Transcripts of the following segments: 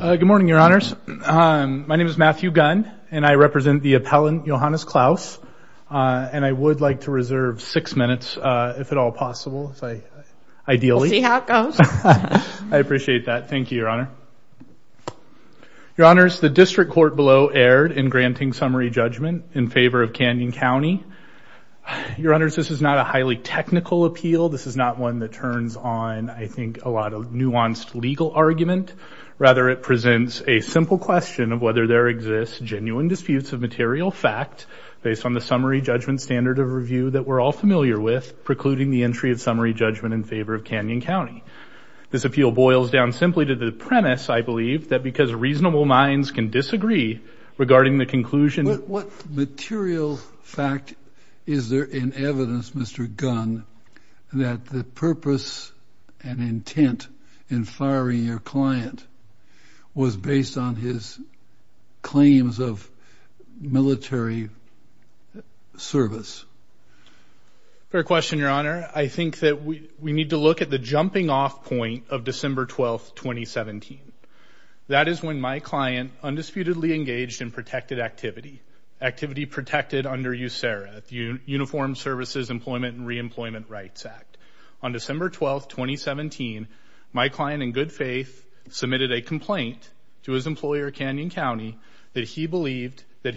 Good morning, your honors. My name is Matthew Gunn, and I represent the appellant, Johannes Claus. And I would like to reserve six minutes, if at all possible, ideally. We'll see how it goes. I appreciate that. Thank you, your honor. Your honors, the district court below erred in granting summary judgment in favor of Canyon County. Your honors, this is not a highly technical appeal. This is not one that turns on, I think, a lot of nuanced legal argument. Rather, it presents a simple question of whether there exists genuine disputes of material fact based on the summary judgment standard of review that we're all familiar with, precluding the entry of summary judgment in favor of Canyon County. This appeal boils down simply to the premise, I believe, that because reasonable minds can disagree regarding the conclusion... What material fact is there in evidence, Mr. Gunn, that the purpose and intent in firing your client was based on his claims of military service? Fair question, your honor. I think that we need to look at the jumping-off point of December 12, 2017. That is when my client undisputedly engaged in protected activity, activity protected under USERRA, the Uniformed Services Employment and Reemployment Rights Act. On December 12, 2017, my client in good faith submitted a complaint to his employer, Canyon County, that he believed that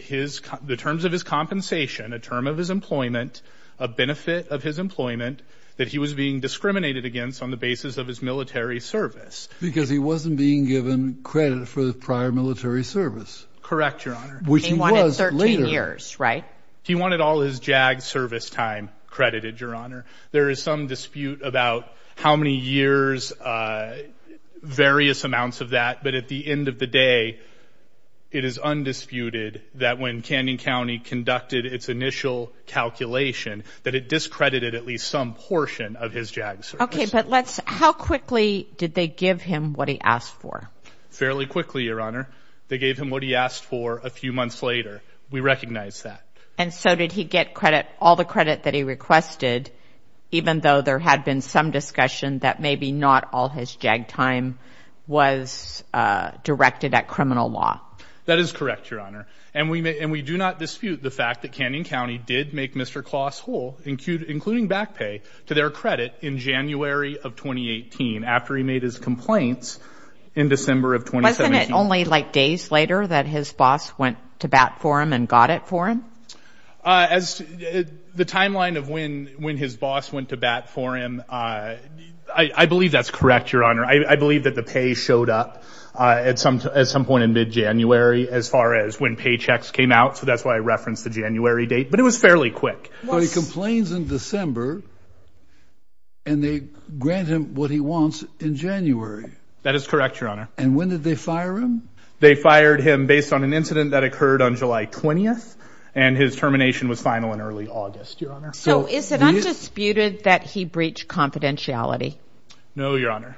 the terms of his compensation, a term of his employment, a benefit of his employment, that he was being discriminated against on the basis of his military service. Because he wasn't being given credit for the prior military service. Correct, your honor. He wanted 13 years, right? He wanted all his JAG service time credited, your honor. There is some dispute about how many years, various amounts of that, but at the end of the day, it is undisputed that when Canyon County conducted its initial calculation, that it discredited at least some portion of his JAG service. Okay, but let's... How quickly did they give him what he asked for? Fairly quickly, your honor. They gave him what he asked for a few months later. We recognize that. And so did he get credit, all the credit that he requested, even though there had been some discussion that maybe not all his JAG time was directed at criminal law? That is correct, your honor. And we do not dispute the fact that Canyon County did make Mr. Kloss whole, including back pay, to their credit in January of 2018, after he made his complaints in December of 2017. Wasn't it only like days later that his boss went to bat for him and got it for him? The timeline of when his boss went to bat for him, I believe that's correct, your honor. I believe that the pay showed up at some point in mid-January, as far as when paychecks came out, so that's why I referenced the January date, but it was fairly quick. Well, he complains in December, and they grant him what he They fired him based on an incident that occurred on July 20th, and his termination was final in early August, your honor. So is it undisputed that he breached confidentiality? No, your honor.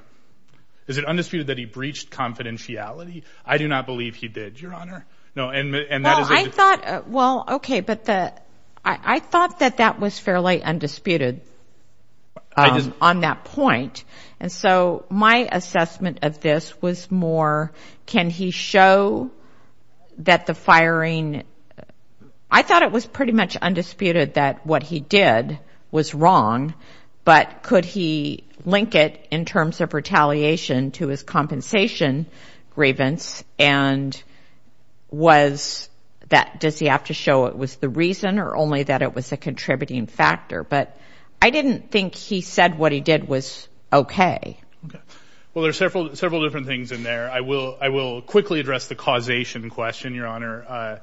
Is it undisputed that he breached confidentiality? I do not believe he did, your honor. No, and I thought, well, okay, but I thought that that was fairly undisputed on that point. And so my question is, did he show that the firing, I thought it was pretty much undisputed that what he did was wrong, but could he link it in terms of retaliation to his compensation grievance, and was that, does he have to show it was the reason, or only that it was a contributing factor? But I didn't think he said what he did was okay. Okay. Well, there's several different things in there. I will, I will quickly address the causation question, your honor.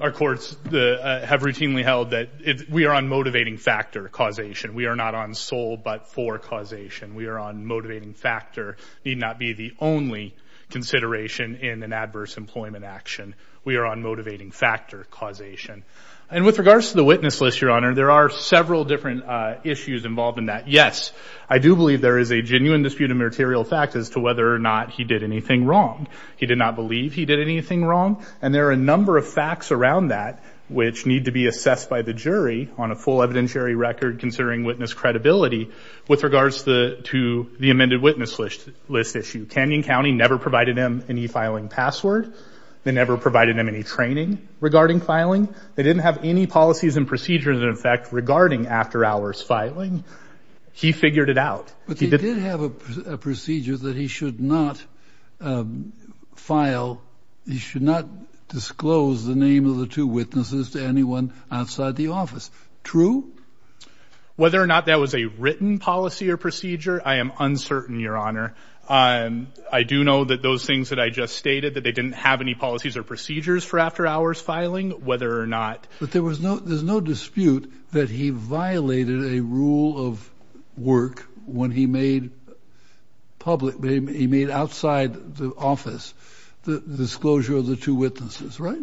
Our courts have routinely held that we are on motivating factor causation. We are not on sole but for causation. We are on motivating factor, need not be the only consideration in an adverse employment action. We are on motivating factor causation. And with regards to the witness list, your honor, there are several different issues involved in that. Yes, I do believe there is a genuine dispute of material fact as to whether or not he did anything wrong. He did not believe he did anything wrong, and there are a number of facts around that which need to be assessed by the jury on a full evidentiary record considering witness credibility with regards to the amended witness list issue. Canyon County never provided him any filing password. They never provided him any training regarding filing. They didn't have any policies and procedures in effect regarding after hours filing. He figured it out, but he did have a procedure that he should not file. He should not disclose the name of the two witnesses to anyone outside the office. True, whether or not that was a written policy or procedure. I am uncertain, your honor. I do know that those things that I just stated that they didn't have any policies or procedures for after hours filing, whether or not. But there was no, there's no dispute that he violated a rule of work when he made public, he made outside the office the disclosure of the two witnesses, right?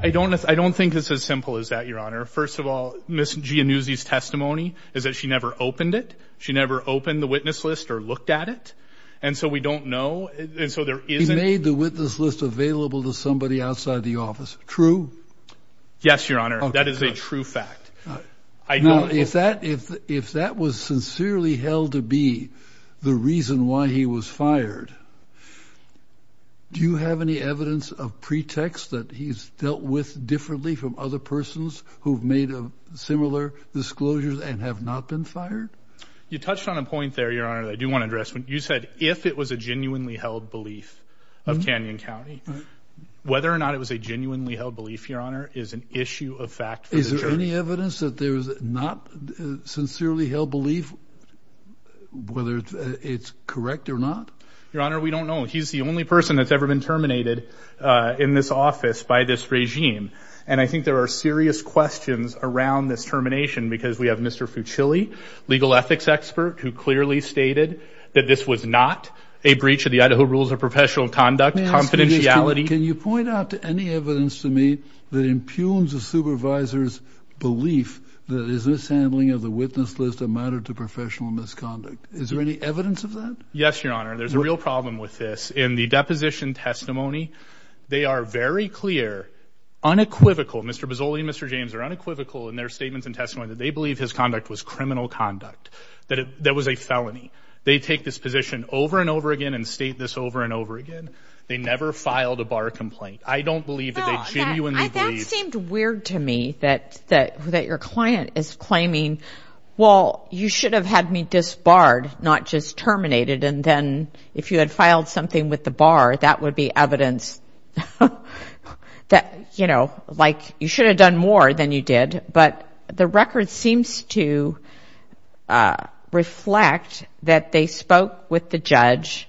I don't, I don't think it's as simple as that, your honor. First of all, Ms. Giannuzzi's testimony is that she never opened it. She never opened the witness list or looked at it, and so we don't know, and so there isn't. He made the witness list available to somebody outside the office. True. Yes, your honor. That is a true fact. I know if that if if that was sincerely held to be the reason why he was fired. Do you have any evidence of pretext that he's dealt with differently from other persons who have made a similar disclosures and have not been fired? You touched on a point there, your honor. I do want to address when you said if it was a genuinely held belief of Canyon County, whether or not it was a genuinely held belief, your honor, is an issue of fact. Is there any evidence that there is not sincerely held belief, whether it's correct or not? Your honor, we don't know. He's the only person that's ever been terminated in this office by this regime, and I think there are serious questions around this termination because we have Mr. Fucili, legal ethics expert, who clearly stated that this was not a breach of the Idaho rules of professional conduct. Confidentiality. Can you point out to any evidence to me that impugns a supervisor's belief that is this handling of the witness list of matter to professional misconduct? Is there any evidence of that? Yes, your honor. There's a real problem with this. In the deposition testimony, they are very clear, unequivocal. Mr Bozzoli and Mr James are unequivocal in their statements and testimony that they believe his conduct was criminal conduct, that that was a felony. They take this position over and over again and state this over and over again. They never filed a bar complaint. I don't believe that they genuinely believe. That seemed weird to me, that your client is claiming, well, you should have had me disbarred, not just terminated. And then if you had filed something with the bar, that would be evidence that, you know, like you should have done more than you did. But the judge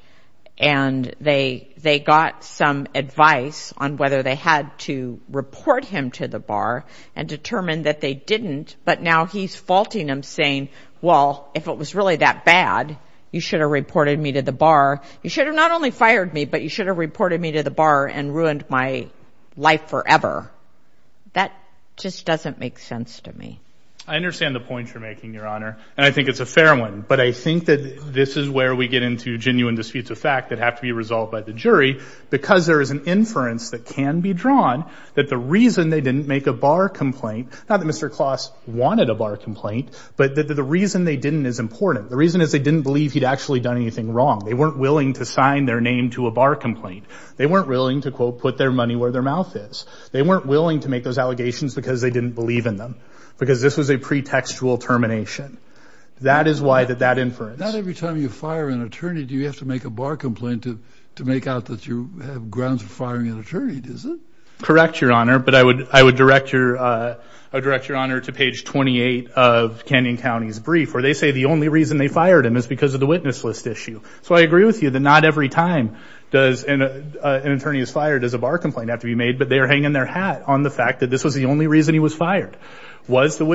and they they got some advice on whether they had to report him to the bar and determined that they didn't. But now he's faulting him saying, well, if it was really that bad, you should have reported me to the bar. You should have not only fired me, but you should have reported me to the bar and ruined my life forever. That just doesn't make sense to me. I understand the point you're making, your honor, and I think it's a fair one. But I think that this is where we get into genuine disputes of fact that have to be resolved by the jury, because there is an inference that can be drawn that the reason they didn't make a bar complaint, not that Mr. Kloss wanted a bar complaint, but that the reason they didn't is important. The reason is they didn't believe he'd actually done anything wrong. They weren't willing to sign their name to a bar complaint. They weren't willing to, quote, put their money where their mouth is. They weren't willing to make those allegations because they didn't believe in them, because this was a pretextual termination. That is why that that inference. Not every time you fire an attorney do you have to make a bar complaint to to make out that you have grounds for firing an attorney, does it? Correct, your honor, but I would I would direct your honor to page 28 of Kenyon County's brief, where they say the only reason they fired him is because of the witness list issue. So I agree with you that not every time does an attorney is fired as a bar complaint have to be made, but they are hanging their hat on the fact that this was the only reason he was fired, was the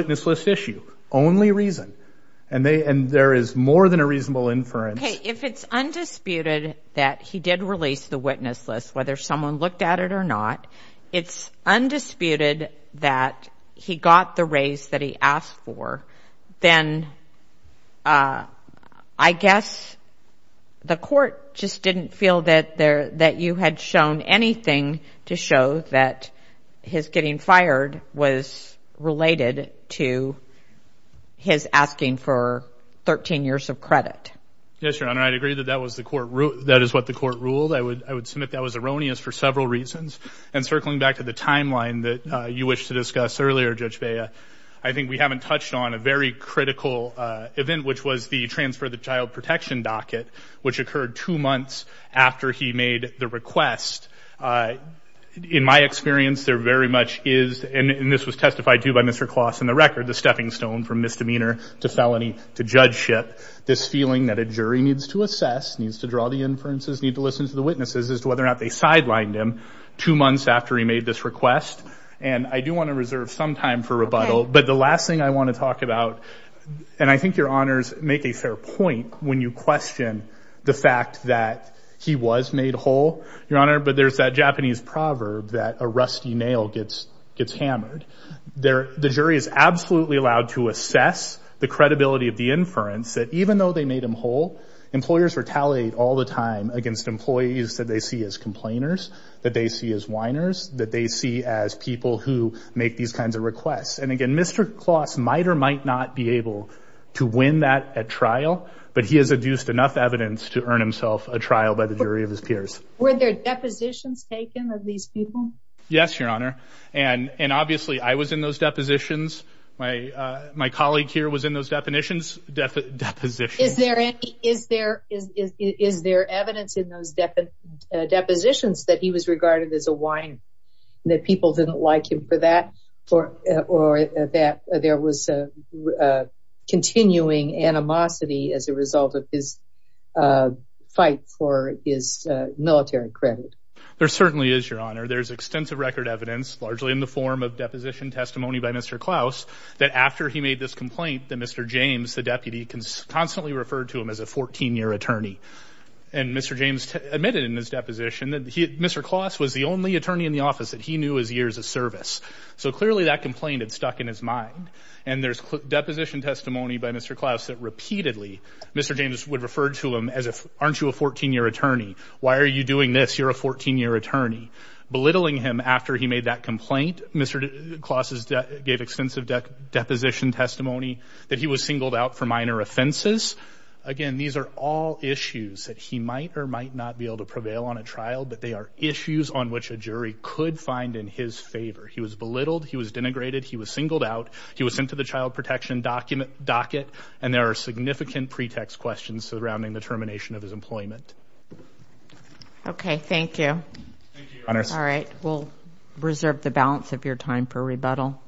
more than a reasonable inference. If it's undisputed that he did release the witness list, whether someone looked at it or not, it's undisputed that he got the raise that he asked for, then I guess the court just didn't feel that there that you had shown anything to show that his getting fired was related to his asking for 13 years of credit. Yes, your honor, I'd agree that that was the court rule, that is what the court ruled. I would I would submit that was erroneous for several reasons, and circling back to the timeline that you wished to discuss earlier, Judge Bea, I think we haven't touched on a very critical event, which was the transfer of the child protection docket, which occurred two months after he made the request. In my experience, there very much is, and this was testified to by Mr. Kloss in the record, the stepping stone for misdemeanor to felony to judgeship, this feeling that a jury needs to assess, needs to draw the inferences, need to listen to the witnesses as to whether or not they sidelined him two months after he made this request. And I do want to reserve some time for rebuttal, but the last thing I want to talk about, and I think your honors make a fair point when you question the fact that he was made whole, your honor, but there's that Japanese proverb that a rusty nail gets gets the credibility of the inference, that even though they made him whole, employers retaliate all the time against employees that they see as complainers, that they see as whiners, that they see as people who make these kinds of requests. And again, Mr. Kloss might or might not be able to win that at trial, but he has adduced enough evidence to earn himself a trial by the jury of his peers. Were there depositions taken of these people? Yes, your honor. And obviously I was in those depositions. My colleague here was in those definitions, depositions. Is there any, is there, is there evidence in those depositions that he was regarded as a whiner, that people didn't like him for that, or that there was a continuing animosity as a result of his fight for his military credit? There certainly is, your honor. There's extensive record evidence, largely in the form of deposition testimony by Mr. Kloss, that after he made this complaint, that Mr. James, the deputy, constantly referred to him as a 14-year attorney. And Mr. James admitted in his deposition that Mr. Kloss was the only attorney in the office that he knew as years of service. So clearly that complaint had stuck in his mind. And there's deposition testimony by Mr. Kloss that repeatedly Mr. James would refer to him as if, aren't you a 14-year attorney? Why are you doing this? You're a 14-year attorney. Belittling him after he made that complaint, Mr. James' extensive deposition testimony, that he was singled out for minor offenses. Again, these are all issues that he might or might not be able to prevail on a trial, but they are issues on which a jury could find in his favor. He was belittled, he was denigrated, he was singled out, he was sent to the child protection docket, and there are significant pretext questions surrounding the termination of his employment. Okay, thank you. Thank you, your honor. All right, we'll reserve the balance of your time for rebuttal.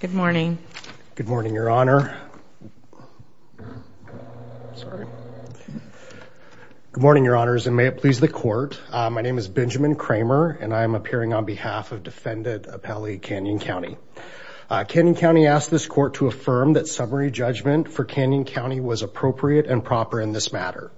Good morning. Good morning, your honor. Sorry. Good morning, your honors, and may it please the court. My name is Benjamin Kramer, and I am appearing on behalf of defendant Appellee Canyon County. Canyon County asked this court to affirm that summary judgment for Canyon County was appropriate and proper in this matter.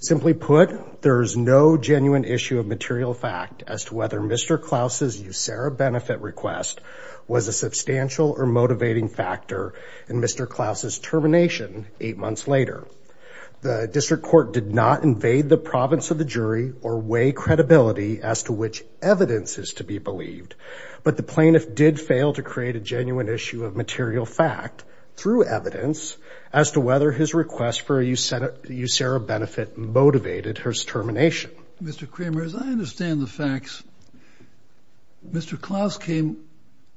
Simply put, there is no genuine issue of material fact as to whether Mr. Klaus's USERRA benefit request was a substantial or motivating factor in Mr. Klaus's termination eight months later. The district court did not invade the province of the jury or weigh credibility as to which evidence is to be believed, but the plaintiff did fail to create a genuine issue of material fact through evidence as to whether his request for a USERRA benefit motivated her termination. Mr. Kramer, as I understand the facts, Mr. Klaus came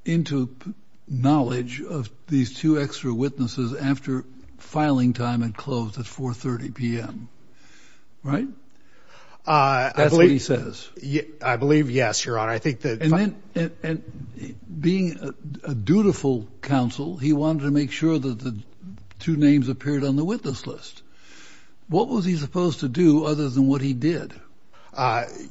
into knowledge of these two extra witnesses after filing time had closed at 4 30 p.m., right? That's what he says. I believe yes, your honor. I think that... Being a dutiful counsel, he wanted to make sure that the two names appeared on the witness list. What was he supposed to do other than what he did?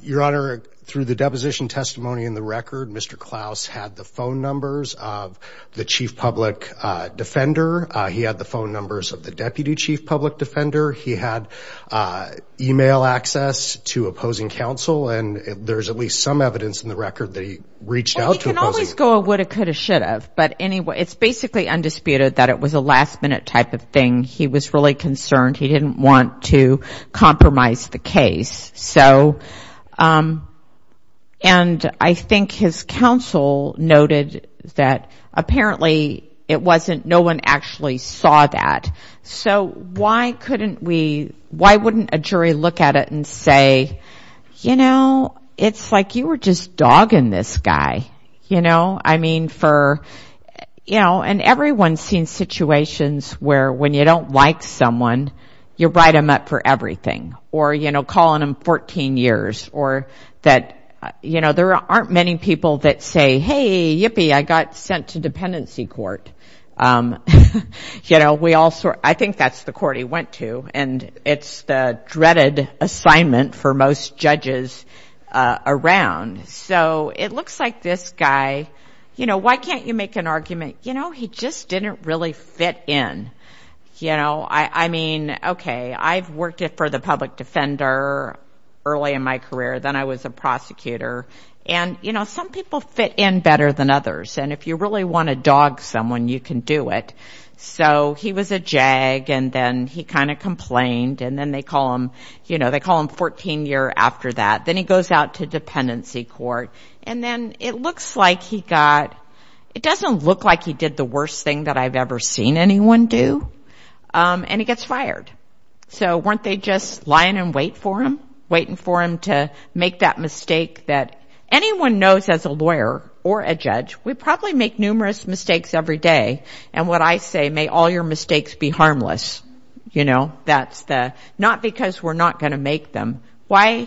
Your honor, through the deposition testimony in the record, Mr. Klaus had the phone numbers of the chief public defender. He had the phone numbers of the deputy chief public defender. He had email access to opposing counsel, and there's at least some two opposing... It can always go a woulda, coulda, shoulda, but anyway, it's basically undisputed that it was a last minute type of thing. He was really concerned. He didn't want to compromise the case. So, and I think his counsel noted that apparently it wasn't, no one actually saw that. So why couldn't we, why wouldn't a jury look at it and say, you know, it's like you were just hogging this guy, you know? I mean, for, you know, and everyone's seen situations where when you don't like someone, you write them up for everything or, you know, calling them 14 years or that, you know, there aren't many people that say, hey, yippee, I got sent to dependency court. You know, we all sort... I think that's the court he went to, and it's the dreaded assignment for most people. So it looks like this guy, you know, why can't you make an argument? You know, he just didn't really fit in, you know? I mean, okay, I've worked for the public defender early in my career, then I was a prosecutor, and, you know, some people fit in better than others, and if you really want to dog someone, you can do it. So he was a jag, and then he kind of complained, and then they call him, you know, they call him 14 year after that. Then he goes out to work, and then it looks like he got... It doesn't look like he did the worst thing that I've ever seen anyone do, and he gets fired. So weren't they just lying in wait for him, waiting for him to make that mistake that anyone knows as a lawyer or a judge, we probably make numerous mistakes every day, and what I say, may all your mistakes be harmless, you know? That's the... Not because we're not going to make them. Why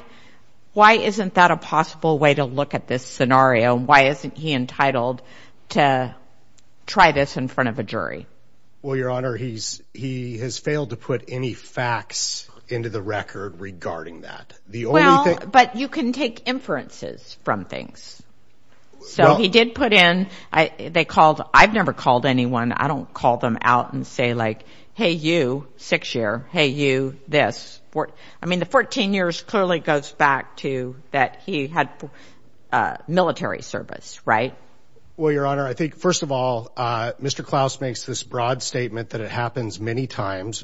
isn't that a possible way to look at this scenario? Why isn't he entitled to try this in front of a jury? Well, Your Honor, he has failed to put any facts into the record regarding that. Well, but you can take inferences from things. So he did put in... They called... I've never called anyone. I don't call them out and say like, hey, you, six year, hey, you, this. I mean, the 14 years clearly goes back to that he had military service, right? Well, Your Honor, I think, first of all, Mr. Klaus makes this broad statement that it happens many times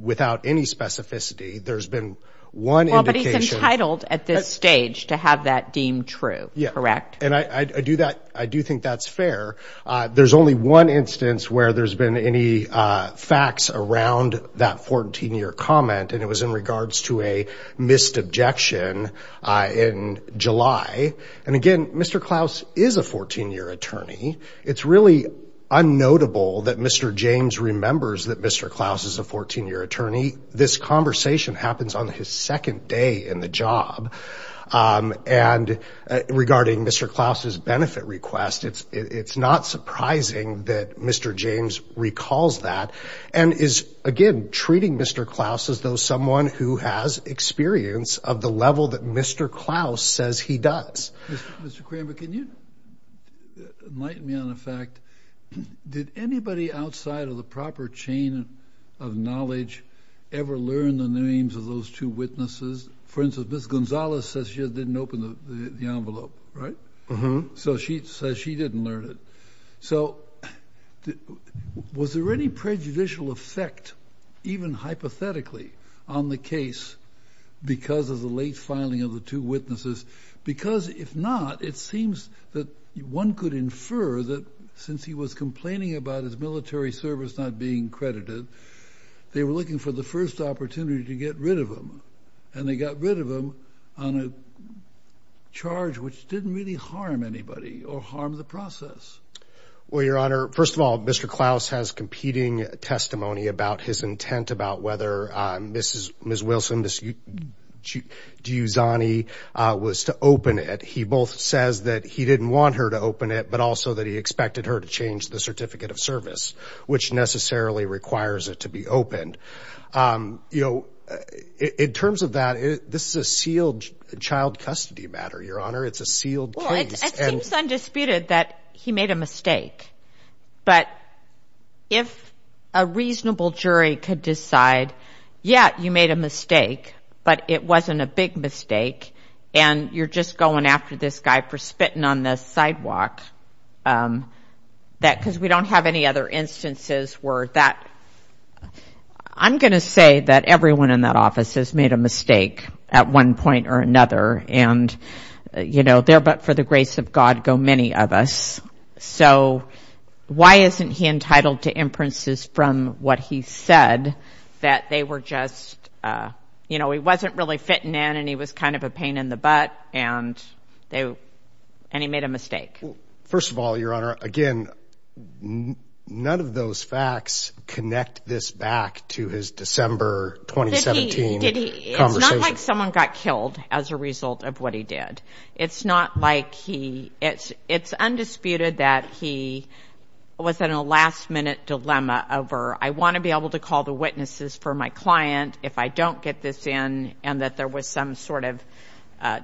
without any specificity. There's been one indication... Well, but he's entitled at this stage to have that deemed true, correct? Yeah, and I do that... I do think that's fair. There's only one instance where there's been any facts around that 14 year comment, and it was in regards to a missed objection in July. And again, Mr. Klaus is a 14 year attorney. It's really unnotable that Mr. James remembers that Mr. Klaus is a 14 year attorney. This conversation happens on his second day in the job. And regarding Mr. Klaus's benefit request, it's not surprising that Mr. James recalls that and is, again, treating Mr. Klaus as though someone who has experience of the level that Mr. Klaus says he does. Mr. Kramer, can you enlighten me on the fact... Did anybody outside of the proper chain of knowledge ever learn the names of those two witnesses? For instance, Miss Gonzalez says she didn't open the envelope, right? Mm-hmm. So she says she didn't learn it. So was there any prejudicial effect, even hypothetically, on the case because of the late filing of the two witnesses? Because if not, it seems that one could infer that since he was complaining about his military service not being credited, they were looking for the first opportunity to get rid of him. And they got rid of him on a charge which didn't really harm anybody or harm the process. Well, Your Honor, first of all, Mr. Klaus has competing testimony about his intent about whether Mrs. Wilson, Miss Giussani was to open it. He both says that he didn't want her to open it, but also that he expected her to change the Certificate of Service, which necessarily requires it to be opened. You know, in terms of that, this is a sealed child custody matter, Your Honor. It's a sealed case. Well, it seems undisputed that he made a mistake. But if a reasonable jury could decide, yeah, you made a mistake, but it wasn't a big mistake, and you're just going after this guy for spitting on the sidewalk, because we don't have any other instances where that, I'm going to say that everyone in that office has made a mistake at one point or another. And, you know, there but for the grace of God go many of us. So why isn't he entitled to inferences from what he said that they were just, you know, he wasn't really fitting in and he was kind of a butt, and they, and he made a mistake. First of all, Your Honor, again, none of those facts connect this back to his December 2017 conversation. It's not like someone got killed as a result of what he did. It's not like he, it's undisputed that he was in a last-minute dilemma over, I want to be able to call the witnesses for my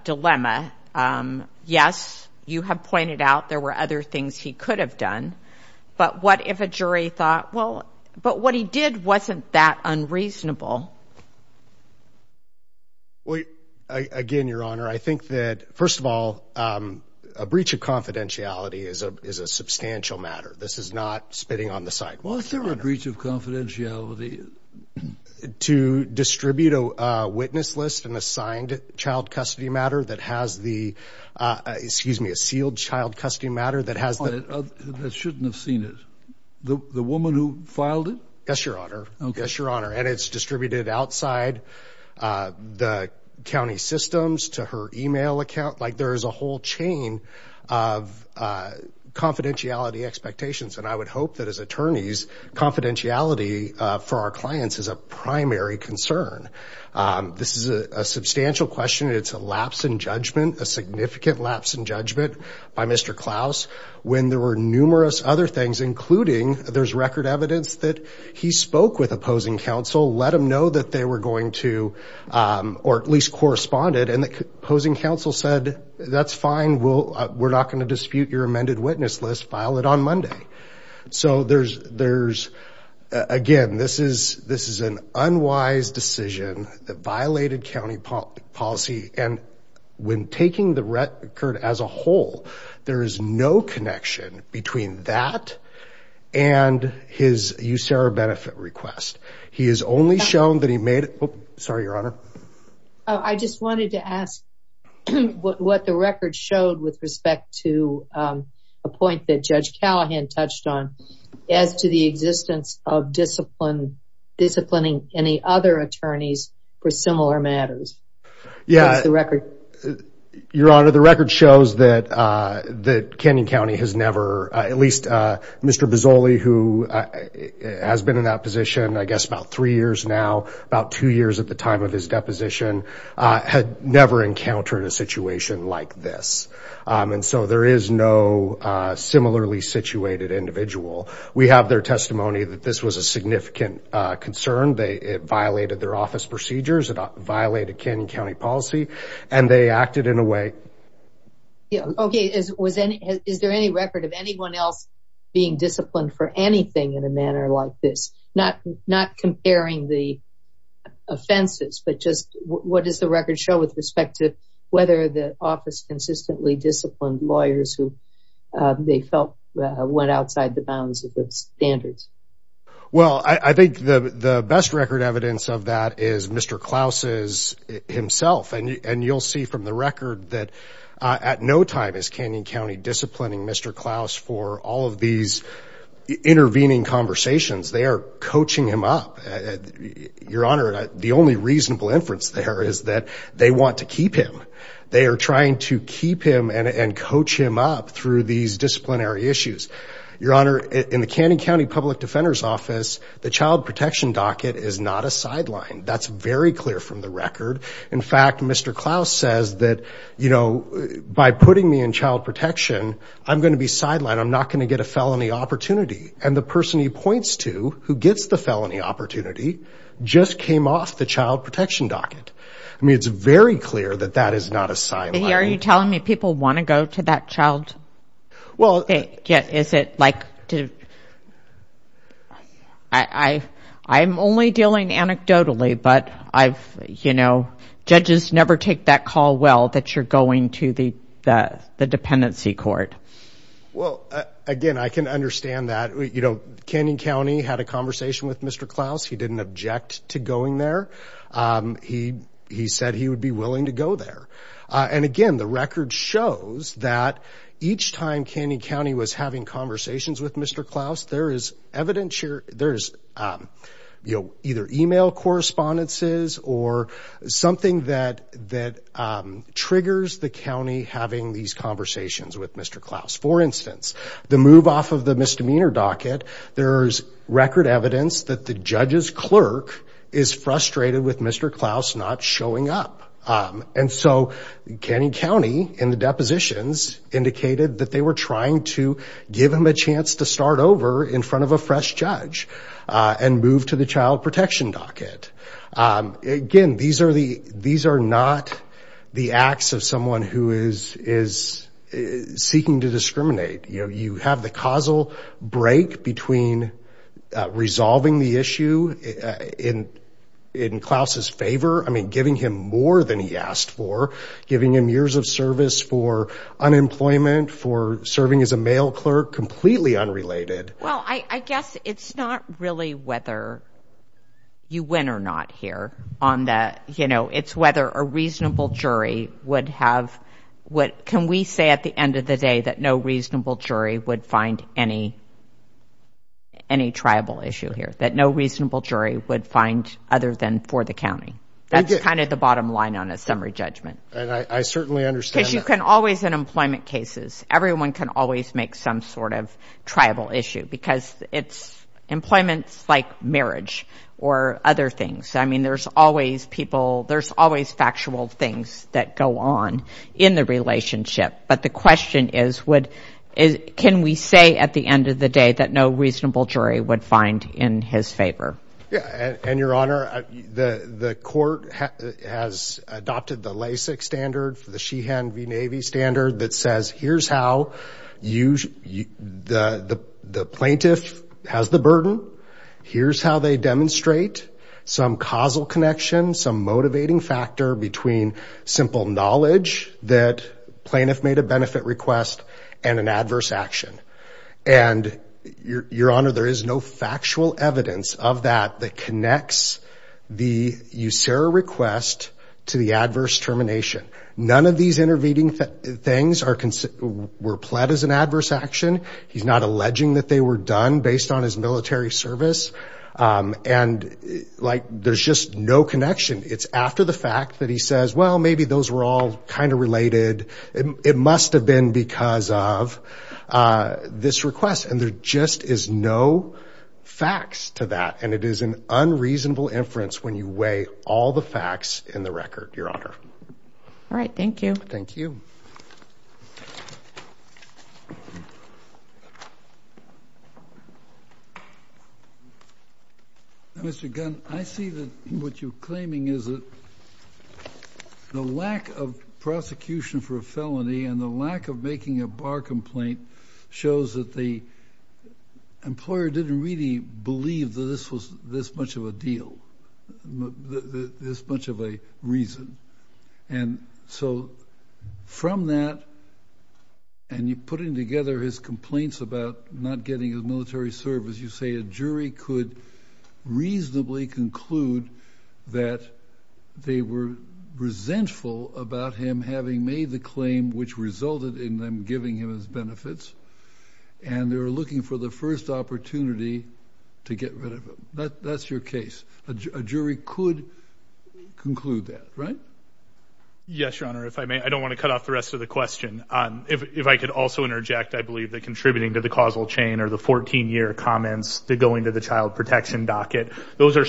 dilemma. Yes, you have pointed out there were other things he could have done. But what if a jury thought, well, but what he did wasn't that unreasonable? Well, again, Your Honor, I think that, first of all, a breach of confidentiality is a substantial matter. This is not spitting on the side. Well, is there a breach of confidentiality? To distribute a witness list and assigned child custody matter that has the, excuse me, a sealed child custody matter that has the... I shouldn't have seen it. The woman who filed it? Yes, Your Honor. Yes, Your Honor. And it's distributed outside the county systems to her email account. Like there is a whole chain of confidentiality expectations. And I would hope that as attorneys, confidentiality for our clients is a lapse in judgment, a significant lapse in judgment by Mr. Klaus when there were numerous other things, including there's record evidence that he spoke with opposing counsel, let him know that they were going to, or at least corresponded. And the opposing counsel said, that's fine. We're not going to dispute your amended witness list. File it on Monday. So there's, again, this is an unwise decision that violated county policy. And when taking the record as a whole, there is no connection between that and his USERRA benefit request. He has only shown that he made it... Sorry, Your Honor. I just wanted to ask what the record showed with respect to a point that Judge Callahan touched on as to the existence of disciplining any other attorneys for similar matters. What's the record? Your Honor, the record shows that Canyon County has never, at least Mr. Bozzoli, who has been in that position, I guess, about three years now, about two years at the time of his deposition, had never encountered a situation like this. And so there is no similarly situated individual. We have their testimony that this was a significant concern. It violated their office procedures. It violated Canyon County policy, and they acted in a way... Okay. Is there any record of anyone else being disciplined for anything in a manner like this? Not comparing the offenses, but just what does the record show with respect to whether the office consistently disciplined lawyers who they felt went outside the bounds of the standards? Well, I think the best record evidence of that is Mr. Klaus's himself, and you'll see from the record that at no time is Canyon County disciplining Mr. Klaus for all of these intervening conversations. They are coaching him up. Your Honor, the only reasonable inference there is that they want to keep him. They are trying to keep him and coach him up through these disciplinary issues. Your Honor, in the Canyon County Public Defender's Office, the child protection docket is not a sideline. That's very clear from the record. In fact, Mr. Klaus says that, you know, by putting me in child protection, I'm going to be sidelined. I'm not going to get a felony opportunity. And the person he points to who gets the felony opportunity just came off the child protection docket. I mean, it's very clear that that is not a sideline. Are you telling me people want to go to that child? Well, is it like, I'm only dealing anecdotally, but I've, you know, judges never take that call well that you're going to the dependency court. Well, again, I can understand that, you know, Canyon County had a conversation with Mr. Klaus. He didn't object to going there. He said he would be willing to go there. And again, the record shows that each time Canyon County was having conversations with Mr. Klaus, there is evidence here. There's either email correspondences or something that triggers the county having these conversations with Mr. Klaus. For instance, the move off of the misdemeanor docket. There's record evidence that the judge's clerk is frustrated with Mr. Klaus not showing up. And so Canyon County in the depositions indicated that they were trying to give him a chance to start over in front of a fresh judge and move to the child protection docket. Again, these are not the acts of someone who is seeking to discriminate. You have the causal break between resolving the issue in Klaus's favor. I mean, giving him more than he asked for, giving him years of service for unemployment, for serving as a mail clerk, completely unrelated. Well, I guess it's not really whether you win or not here on that, you know, it's whether a reasonable jury would have what can we say at the end of the day that no reasonable jury would find any tribal issue here, that no reasonable jury would find other than for the county. That's kind of the bottom line on a summary judgment. And I certainly understand that. Because you can always in employment cases, everyone can always make some sort of tribal issue because it's employments like marriage or other things. I mean, there's always people, there's always factual things that go on in the relationship. But the question is, can we say at the end of the day that no reasonable jury would find in his favor? Yeah, and your honor, the court has adopted the LASIK standard for the Sheehan v. Navy standard that says, here's how the plaintiff has the burden. Here's how they demonstrate some causal connection, some motivating factor between simple knowledge that plaintiff made a benefit request and an adverse action. And your honor, there is no factual evidence of that that connects the USERA request to the adverse termination. None of these intervening things were pled as an adverse action. He's not alleging that they were done based on his military service. And like, there's just no connection. It's after the fact that he says, well, maybe those were all kind of related. It must have been because of this request. And there just is no facts to that. And it is an unreasonable inference when you weigh all the facts in the record, your honor. All right. Thank you. Thank you. Mr. Gunn, I see that what you're claiming is that the lack of prosecution for a felony and the lack of making a bar complaint shows that the employer didn't really believe that this was this much of a deal, this much of a reason. And so from that, and you're putting together his complaints about not getting a military service, you say a jury could reasonably conclude that they were resentful about him having made the claim which resulted in them giving him his benefits. And they were looking for the first opportunity to get rid of him. That's your case. A jury could conclude that, right? Yes, your honor. If I may, I don't want to cut off the rest of the question. If I could also interject, I believe that contributing to the causal chain or the 14-year comments that go into the child protection docket, those are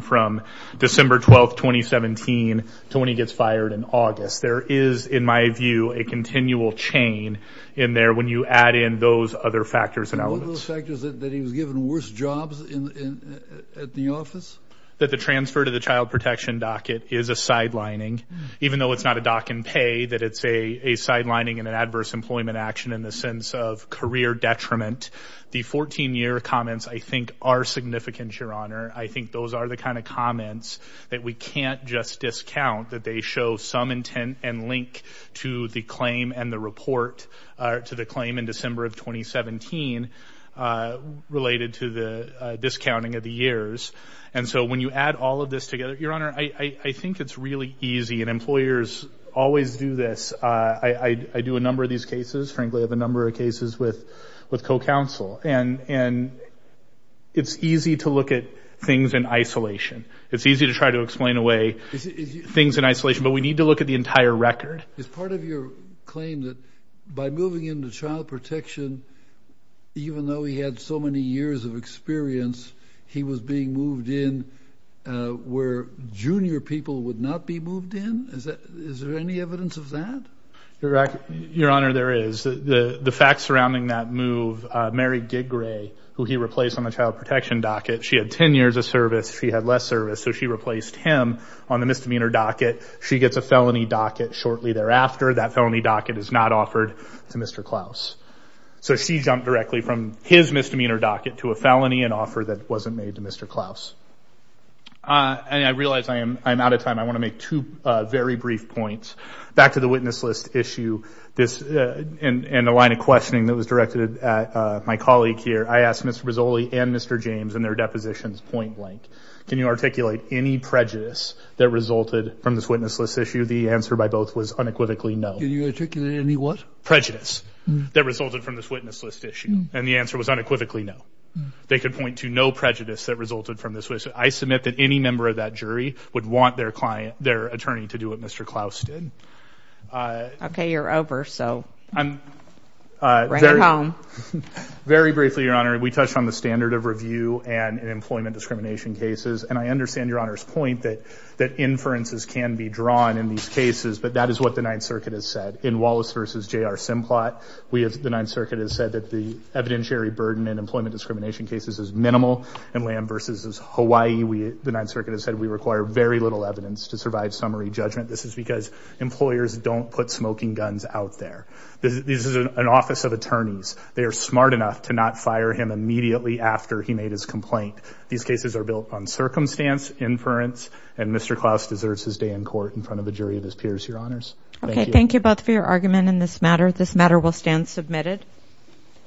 from December 12, 2017 to when he gets fired in August. There is, in my view, a continual chain in there when you add in those other factors and elements. One of those factors that he was given worse jobs at the office? That the transfer to the child protection docket is a sidelining. Even though it's not a dock and pay, that it's a sidelining and an adverse employment action in the sense of career detriment. The 14-year comments, I think, are significant, your honor. I think those are the kind of comments that we can't just discount, that they show some intent and link to the claim and the report to the claim in December of 2017 related to the discounting of the years. And so when you add all of this together, your honor, I think it's really easy. And employers always do this. I do a number of these cases. Frankly, I have a number of cases with co-counsel. And it's easy to look at things in isolation. It's easy to try to explain away things in isolation. But we need to look at the entire record. Is part of your claim that by moving into child protection, even though he had so many years of experience, he was being moved in where junior people would not be moved in? Is there any evidence of that? Your honor, there is. The facts surrounding that move, Mary Giggrey, who he replaced on the child protection docket, she had 10 years of service. She had less service. So she replaced him on the misdemeanor docket. She gets a felony docket shortly thereafter. That felony docket is not offered to Mr. Klaus. So she jumped directly from his misdemeanor docket to a felony and offer that wasn't made to Mr. Klaus. And I realize I'm out of time. I want to make two very brief points. Back to the witness list issue and the line of questioning that was directed at my colleague here. I asked Mr. Rizzoli and Mr. James in their depositions point blank. Can you articulate any prejudice that resulted from this witness list issue? The answer by both was unequivocally no. Can you articulate any what? Prejudice that resulted from this witness list issue. And the answer was unequivocally no. They could point to no prejudice that resulted from this. I submit that any member of that jury would want their attorney to do what Mr. Klaus did. Okay, you're over, so. I'm- Right at home. Very briefly, Your Honor, we touched on the standard of review and employment discrimination cases. And I understand Your Honor's point that inferences can be drawn in these cases, but that is what the Ninth Circuit has said. In Wallace versus J.R. Simplot, the Ninth Circuit has said that the evidentiary burden in employment discrimination cases is minimal. In Lamb versus Hawaii, the Ninth Circuit has said we require very little evidence to survive summary judgment. This is because employers don't put smoking guns out there. This is an office of attorneys. They are smart enough to not fire him immediately after he made his complaint. These cases are built on circumstance, inference, and Mr. Klaus deserves his day in court in front of a jury of his peers, Your Honors. Thank you. Okay, thank you both for your argument in this matter. This matter will stand submitted.